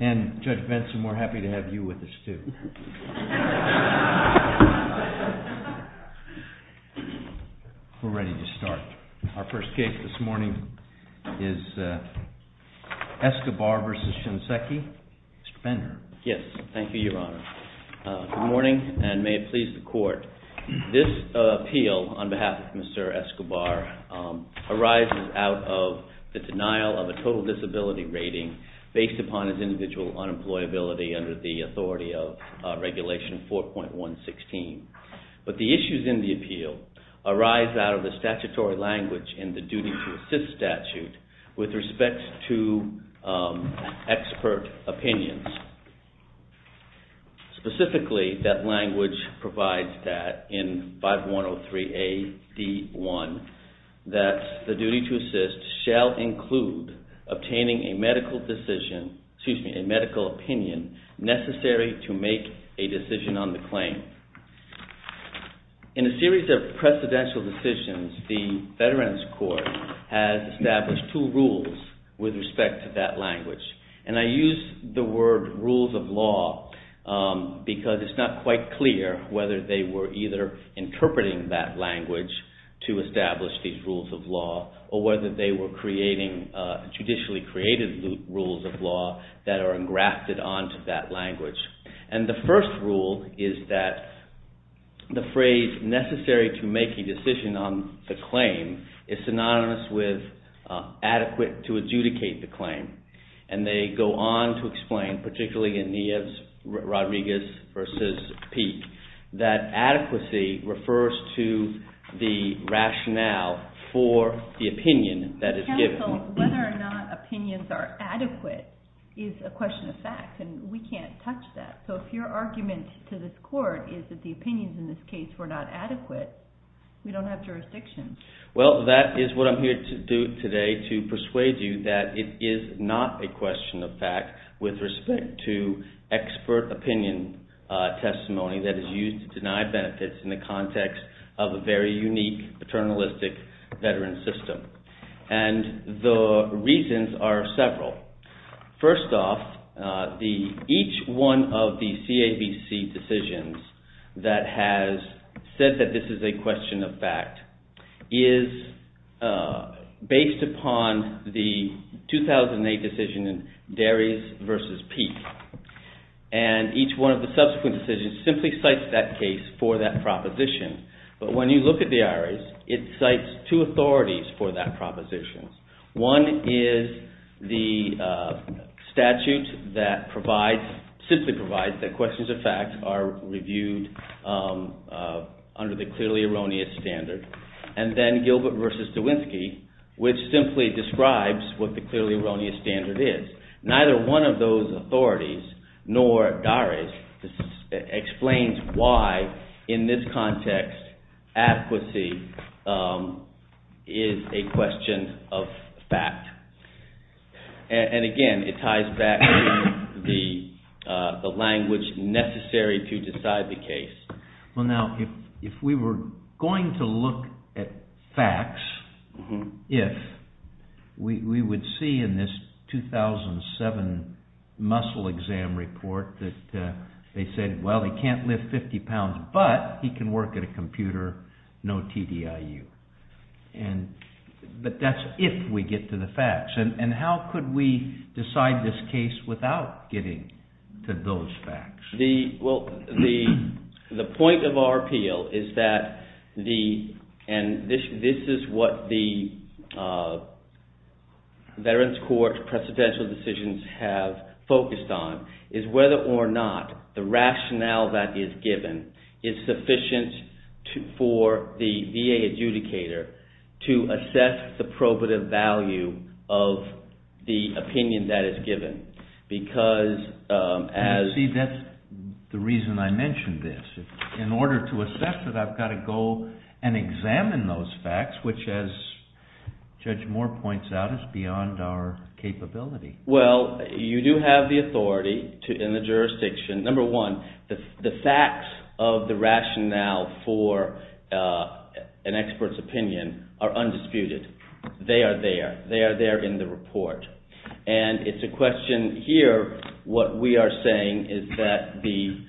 And Judge Benson, we're happy to have you with us, too. We're ready to start. Our first case this morning is ESCOBAR v. SHINSEKI. Mr. Fender. Yes, thank you, Your Honor. Good morning, and may it please the Court. This appeal on behalf of Mr. Escobar arises out of the denial of a total disability rating based upon his individual unemployability under the authority of Regulation 4.116. But the issues in the appeal arise out of the statutory language in the duty-to-assist statute with respect to expert opinions. Specifically, that language provides that in 5103AD1, that the duty-to-assist shall include obtaining a medical decision, excuse me, a medical opinion necessary to make a decision on the claim. In a series of precedential decisions, the Veterans Court has established two rules with respect to that language. And I use the word rules of law because it's not quite clear whether they were either interpreting that language to establish these rules of law or whether they were creating, judicially created rules of law that are engrafted onto that language. And the first rule is that the phrase necessary to make a decision on the claim is synonymous with adequate to adjudicate the claim. And they go on to explain, particularly in Nieves-Rodriguez v. Peek, that adequacy refers to the rationale for the opinion that is given. So whether or not opinions are adequate is a question of fact and we can't touch that. So if your argument to this Court is that the opinions in this case were not adequate, we don't have jurisdiction. Well, that is what I'm here to do today to persuade you that it is not a question of fact with respect to expert opinion testimony that is used to deny benefits in the context of a very unique, paternalistic veteran system. And the reasons are several. First off, each one of the CABC decisions that has said that this is a question of fact is based upon the 2008 decision in Darius v. Peek. And each one of the subsequent decisions simply cites that case for that proposition. But when you look at Darius, it cites two authorities for that proposition. One is the statute that simply provides that questions of fact are reviewed under the clearly erroneous standard. And then Gilbert v. DeWinsky, which simply describes what the clearly erroneous standard is. Neither one of those authorities, nor Darius, explains why in this context adequacy is a question of fact. And again, it ties back to the language necessary to decide the case. Well, now, if we were going to look at facts, if we would see in this 2007 muscle exam report that they said, well, he can't lift 50 pounds, but he can work at a computer, no TDIU. But that's if we get to the facts. And how could we decide this case without getting to those facts? Well, the point of our appeal is that, and this is what the Veterans Court's presidential decisions have focused on, is whether or not the rationale that is given is sufficient for the VA adjudicator to assess the probative value of the opinion that is given. You see, that's the reason I mentioned this. In order to assess it, I've got to go and examine those facts, which as Judge Moore points out, is beyond our capability. Well, you do have the authority in the jurisdiction, number one, the facts of the rationale for an expert's opinion are undisputed. They are there. They are there in the report. And it's a question here, what we are saying is that the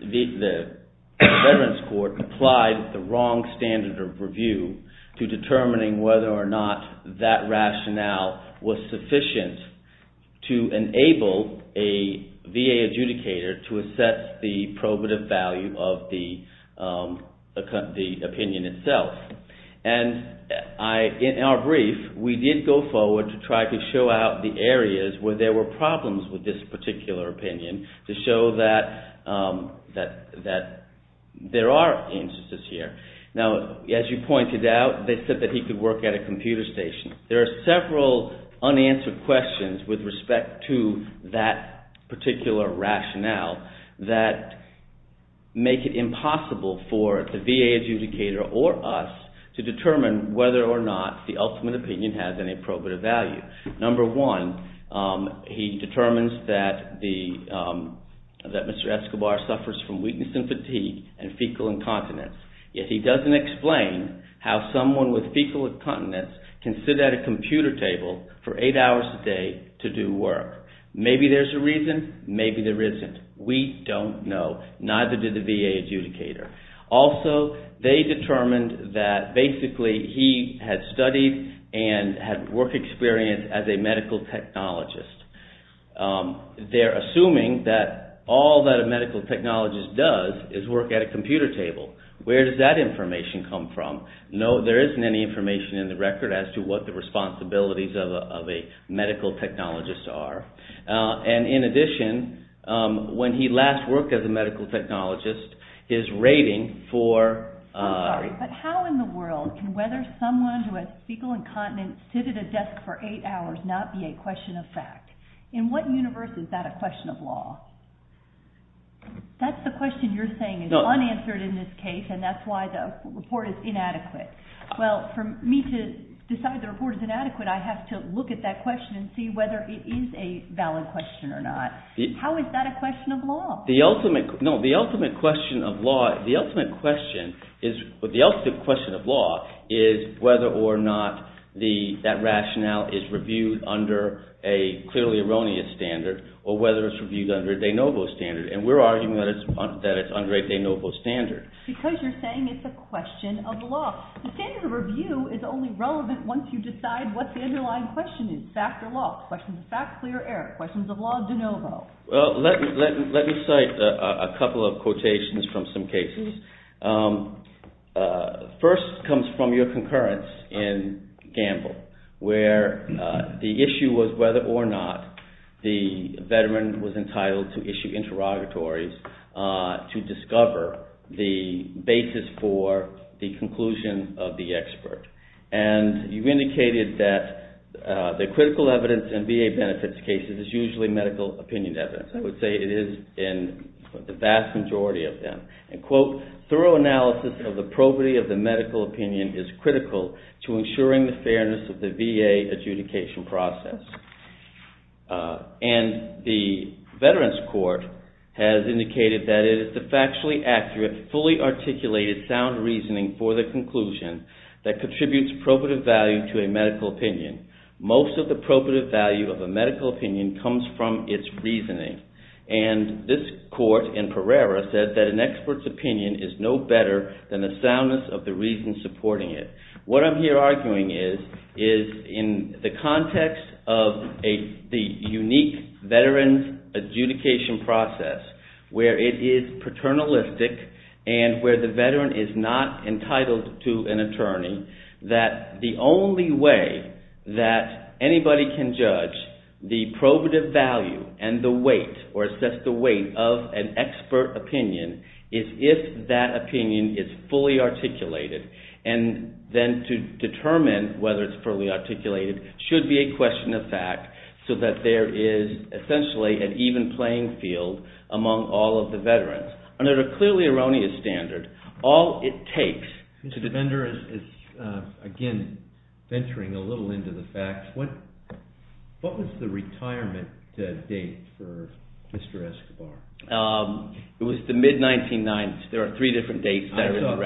Veterans Court applied the wrong standard of review to determining whether or not that rationale was sufficient to enable a VA adjudicator to assess the probative value of the opinion itself. And in our brief, we did go forward to try to show out the areas where there were problems with this particular opinion to show that there are instances here. Now, as you pointed out, they said that he could work at a computer station. There are several unanswered questions with respect to that particular rationale that make it impossible for the VA adjudicator or us to determine whether or not the ultimate opinion has any probative value. Number one, he determines that Mr. Escobar suffers from weakness and fatigue and fecal incontinence. Yet he doesn't explain how someone with fecal incontinence can sit at a computer table for eight hours a day to do work. Maybe there's a reason. Maybe there isn't. We don't know. Neither did the VA adjudicator. Also, they determined that basically he had studied and had work experience as a medical technologist. They're assuming that all that a medical technologist does is work at a computer table. Where does that information come from? No, there isn't any information in the record as to what the responsibilities of a medical technologist are. And in addition, when he last worked as a medical technologist, his rating for… In what universe is that a question of law? That's the question you're saying is unanswered in this case, and that's why the report is inadequate. Well, for me to decide the report is inadequate, I have to look at that question and see whether it is a valid question or not. The ultimate question of law is whether or not that rationale is reviewed under a clearly erroneous standard or whether it's reviewed under a de novo standard. And we're arguing that it's under a de novo standard. Because you're saying it's a question of law. The standard of review is only relevant once you decide what the underlying question is, fact or law. Questions of fact, clear or error. Questions of law, de novo. Well, let me cite a couple of quotations from some cases. First comes from your concurrence in Gamble, where the issue was whether or not the veteran was entitled to issue interrogatories to discover the basis for the conclusion of the expert. And you indicated that the critical evidence in VA benefits cases is usually medical opinion evidence. I would say it is in the vast majority of them. And, quote, thorough analysis of the probity of the medical opinion is critical to ensuring the fairness of the VA adjudication process. And the Veterans Court has indicated that it is the factually accurate, fully articulated, sound reasoning for the conclusion that contributes probative value to a medical opinion. Most of the probative value of a medical opinion comes from its reasoning. And this court in Pereira said that an expert's opinion is no better than the soundness of the reason supporting it. What I'm here arguing is, is in the context of the unique veteran's adjudication process, where it is paternalistic and where the veteran is not entitled to an attorney, that the only way that anybody can judge the probative value and the weight or assess the weight of an expert opinion is if that opinion is fully articulated. And then to determine whether it's fully articulated should be a question of fact, so that there is essentially an even playing field among all of the veterans. Under a clearly erroneous standard, all it takes to defender is, again, venturing a little into the facts. What was the retirement date for Mr. Escobar? It was the mid-1990s. There are three different dates, 93,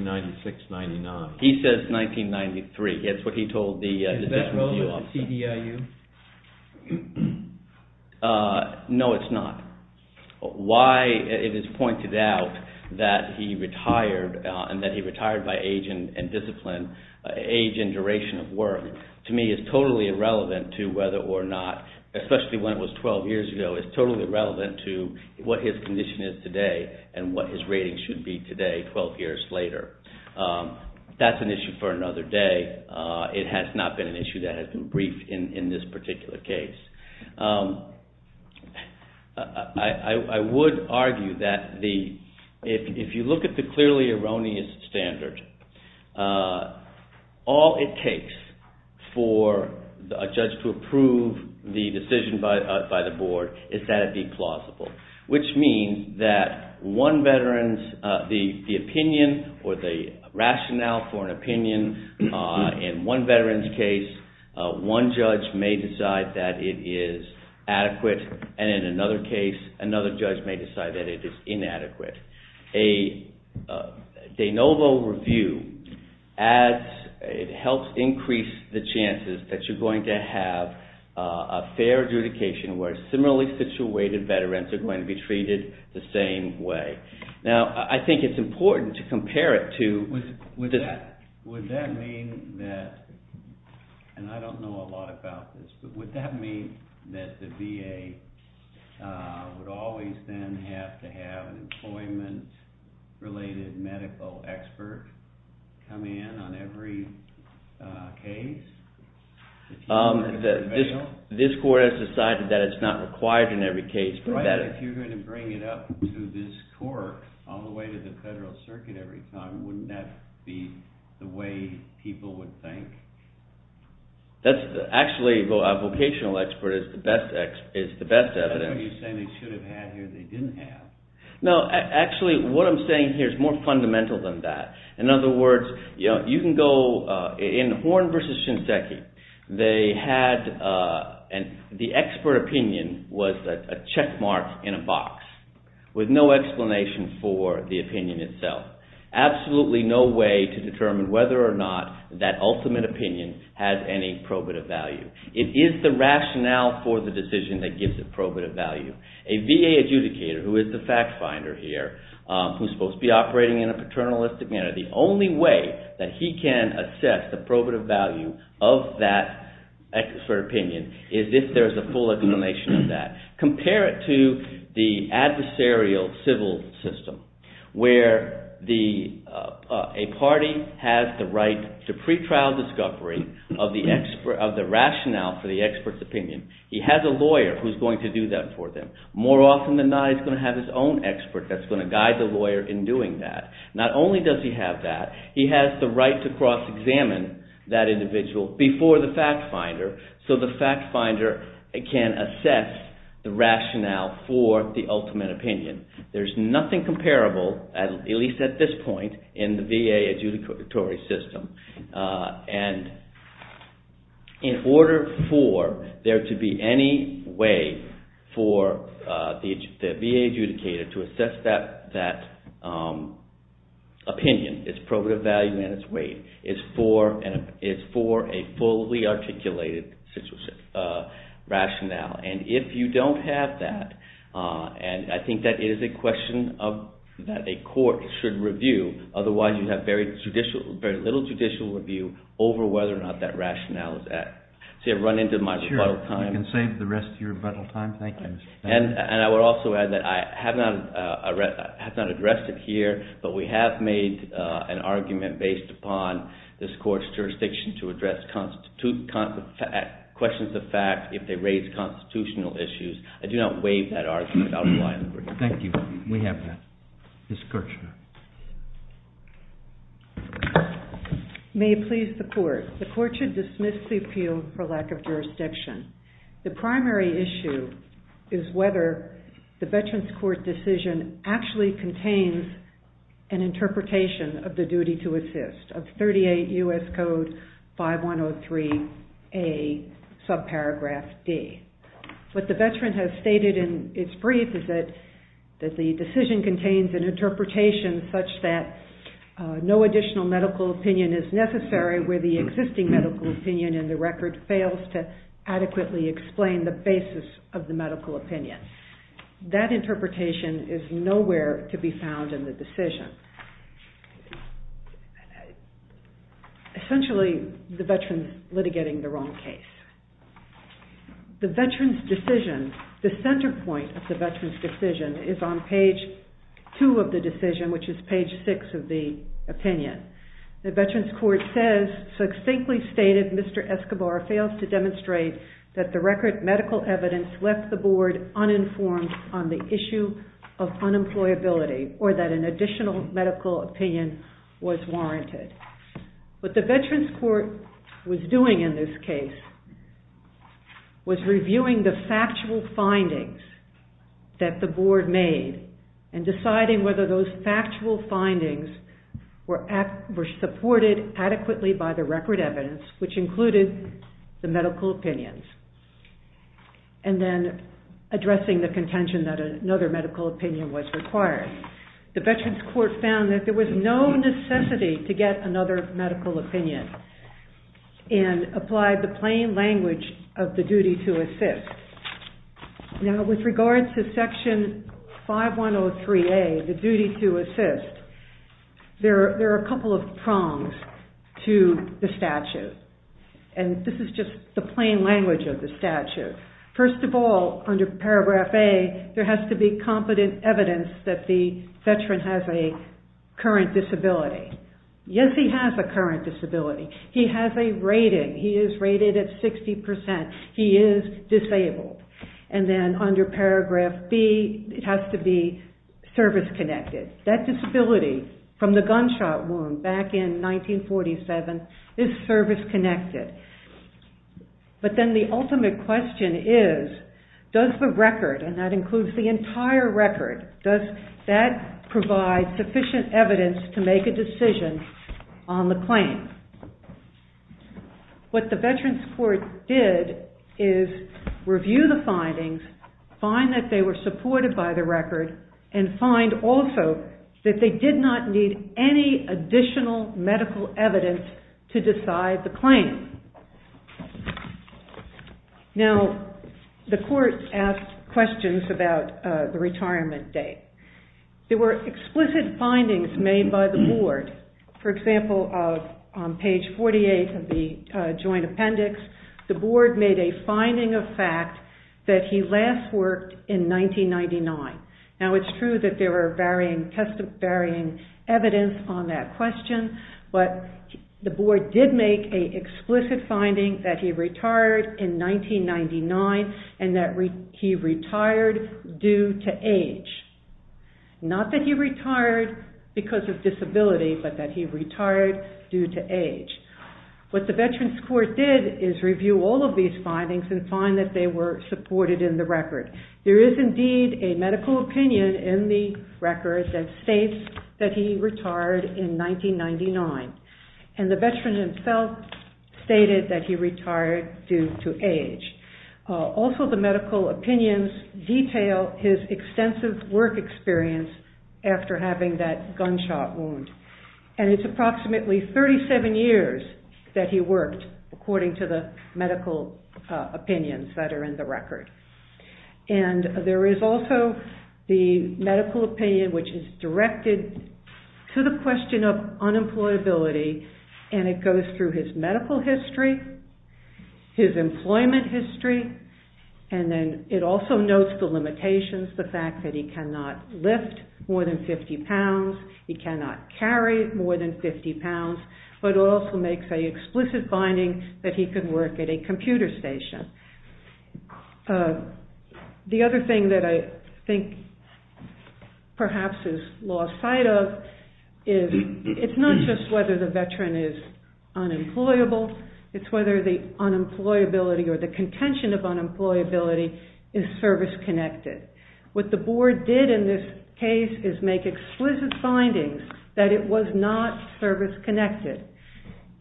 96, 99. He says 1993. That's what he told the veterans. Is that relevant to CDIU? No, it's not. Why it is pointed out that he retired and that he retired by age and discipline, age and duration of work, to me is totally irrelevant to whether or not, especially when it was 12 years ago, is totally relevant to what his condition is today and what his rating should be today, 12 years later. That's an issue for another day. It has not been an issue that has been briefed in this particular case. I would argue that if you look at the clearly erroneous standard, all it takes for a judge to approve the decision by the board is that it be plausible, which means that one veteran's opinion or the rationale for an opinion in one veteran's case, one judge may decide that it is adequate, and in another case, another judge may decide that it is inadequate. A de novo review helps increase the chances that you're going to have a fair adjudication where similarly situated veterans are going to be treated the same way. Now, I think it's important to compare it to... Does a government-related medical expert come in on every case? This court has decided that it's not required in every case. If you're going to bring it up to this court all the way to the federal circuit every time, wouldn't that be the way people would think? Actually, a vocational expert is the best evidence. But you're saying they should have had here, they didn't have. No, actually, what I'm saying here is more fundamental than that. In other words, you can go... In Horne v. Shinseki, the expert opinion was a checkmark in a box with no explanation for the opinion itself. Absolutely no way to determine whether or not that ultimate opinion has any probative value. It is the rationale for the decision that gives it probative value. A VA adjudicator, who is the fact finder here, who's supposed to be operating in a paternalistic manner, the only way that he can assess the probative value of that expert opinion is if there's a full explanation of that. Compare it to the adversarial civil system where a party has the right to pretrial discovery of the rationale for the expert's opinion. He has a lawyer who's going to do that for them. More often than not, he's going to have his own expert that's going to guide the lawyer in doing that. Not only does he have that, he has the right to cross-examine that individual before the fact finder so the fact finder can assess the rationale for the ultimate opinion. There's nothing comparable, at least at this point, in the VA adjudicatory system. In order for there to be any way for the VA adjudicator to assess that opinion, its probative value and its weight is for a fully articulated rationale. If you don't have that, I think that is a question that a court should review. Otherwise, you have very little judicial review over whether or not that rationale is at. I've run into my rebuttal time. You can save the rest of your rebuttal time. Thank you. I would also add that I have not addressed it here, but we have made an argument based upon this court's jurisdiction to address questions of fact if they raise constitutional issues. I do not waive that argument. Thank you. We have that. Ms. Kirchner. May it please the court. The court should dismiss the appeal for lack of jurisdiction. The primary issue is whether the Veterans Court decision actually contains an interpretation of the duty to assist of 38 U.S. Code 5103A, subparagraph D. What the veteran has stated in its brief is that the decision contains an interpretation such that no additional medical opinion is necessary where the existing medical opinion in the record fails to adequately explain the basis of the medical opinion. That interpretation is nowhere to be found in the decision. Essentially, the veteran is litigating the wrong case. The Veterans decision, the center point of the Veterans decision is on page 2 of the decision, which is page 6 of the opinion. The Veterans Court says, succinctly stated, Mr. Escobar fails to demonstrate that the record medical evidence left the board uninformed on the issue of unemployability or that an additional medical opinion was warranted. What the Veterans Court was doing in this case was reviewing the factual findings that the board made and deciding whether those factual findings were supported adequately by the record evidence, which included the medical opinions, and then addressing the contention that another medical opinion was required. The Veterans Court found that there was no necessity to get another medical opinion and applied the plain language of the duty to assist. With regards to section 5103A, the duty to assist, there are a couple of prongs to the statute. This is just the plain language of the statute. First of all, under paragraph A, there has to be competent evidence that the veteran has a current disability. Yes, he has a current disability. He has a rating. He is rated at 60%. He is disabled. And then under paragraph B, it has to be service-connected. That disability from the gunshot wound back in 1947 is service-connected. But then the ultimate question is, does the record, and that includes the entire record, does that provide sufficient evidence to make a decision on the claim? What the Veterans Court did is review the findings, find that they were supported by the record, and find also that they did not need any additional medical evidence to decide the claim. Now, the court asked questions about the retirement date. There were explicit findings made by the board. For example, on page 48 of the joint appendix, the board made a finding of fact that he last worked in 1999. Now, it's true that there were varying evidence on that question, but the board did make an explicit finding that he retired in 1999 and that he retired due to age. Not that he retired because of disability, but that he retired due to age. What the Veterans Court did is review all of these findings and find that they were supported in the record. There is indeed a medical opinion in the record that states that he retired in 1999, and the veteran himself stated that he retired due to age. Also, the medical opinions detail his extensive work experience after having that gunshot wound. It's approximately 37 years that he worked, according to the medical opinions that are in the record. There is also the medical opinion which is directed to the question of unemployability, and it goes through his medical history, his employment history, and then it also notes the limitations, the fact that he cannot lift more than 50 pounds, he cannot carry more than 50 pounds, but also makes an explicit finding that he could work at a computer station. The other thing that I think perhaps is lost sight of is it's not just whether the veteran is unemployable, it's whether the unemployability or the contention of unemployability is service-connected. What the board did in this case is make explicit findings that it was not service-connected,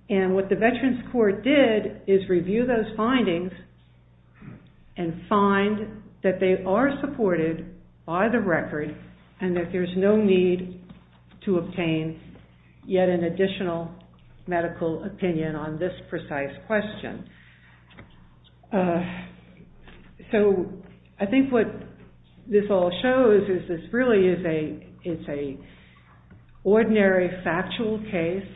and what the Veterans Court did is review those findings and find that they are supported by the record, and that there's no need to obtain yet an additional medical opinion on this precise question. So I think what this all shows is this really is an ordinary factual case.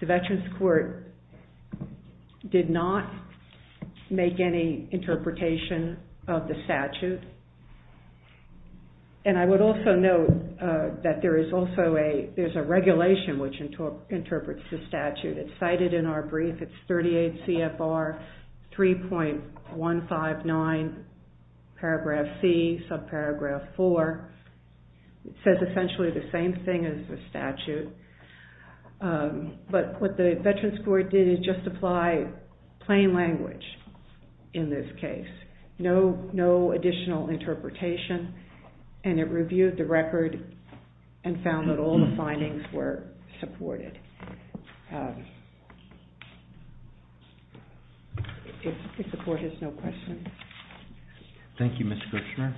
The Veterans Court did not make any interpretation of the statute, and I would also note that there is also a regulation which interprets the statute. It's cited in our brief. It's 38 CFR 3.159 paragraph C, subparagraph 4. It says essentially the same thing as the statute, but what the Veterans Court did is just apply plain language in this case, no additional interpretation, and it reviewed the record and found that all the findings were supported. If the court has no questions. Thank you, Ms. Kushner.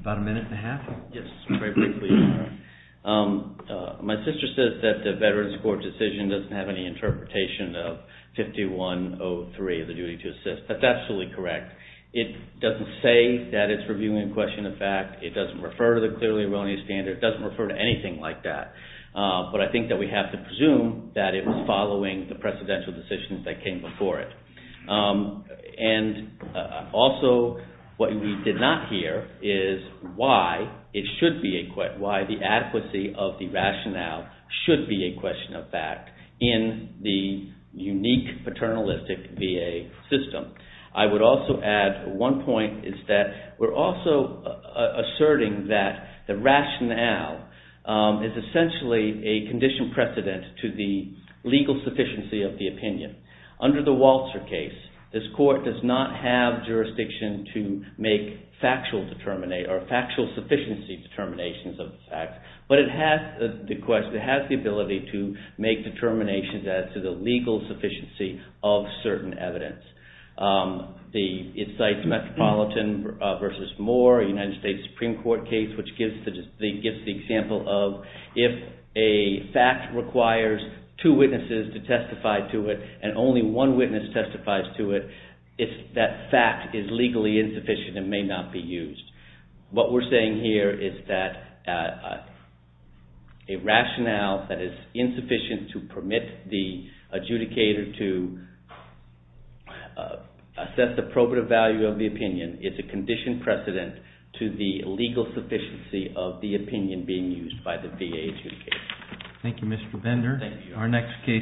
About a minute and a half? Yes, very briefly. My sister says that the Veterans Court decision doesn't have any interpretation of 5103, the duty to assist. That's absolutely correct. It doesn't say that it's reviewing question of fact. It doesn't refer to the clearly erroneous standard. It doesn't refer to anything like that, but I think that we have to presume that it was following the precedential decisions that came before it. Also, what we did not hear is why the adequacy of the rationale should be a question of fact in the unique paternalistic VA system. I would also add one point is that we're also asserting that the rationale is essentially a condition precedent to the legal sufficiency of the opinion. Under the Walter case, this court does not have jurisdiction to make factual sufficiency determinations of the facts, but it has the ability to make determinations as to the legal sufficiency of certain evidence. It cites Metropolitan v. Moore, a United States Supreme Court case, which gives the example of if a fact requires two witnesses to testify to it and only one witness testifies to it, that fact is legally insufficient and may not be used. What we're saying here is that a rationale that is insufficient to permit the adjudicator to assess the probative value of the opinion is a condition precedent to the legal sufficiency of the opinion being used by the VA adjudicator. Thank you, Mr. Bender. Thank you.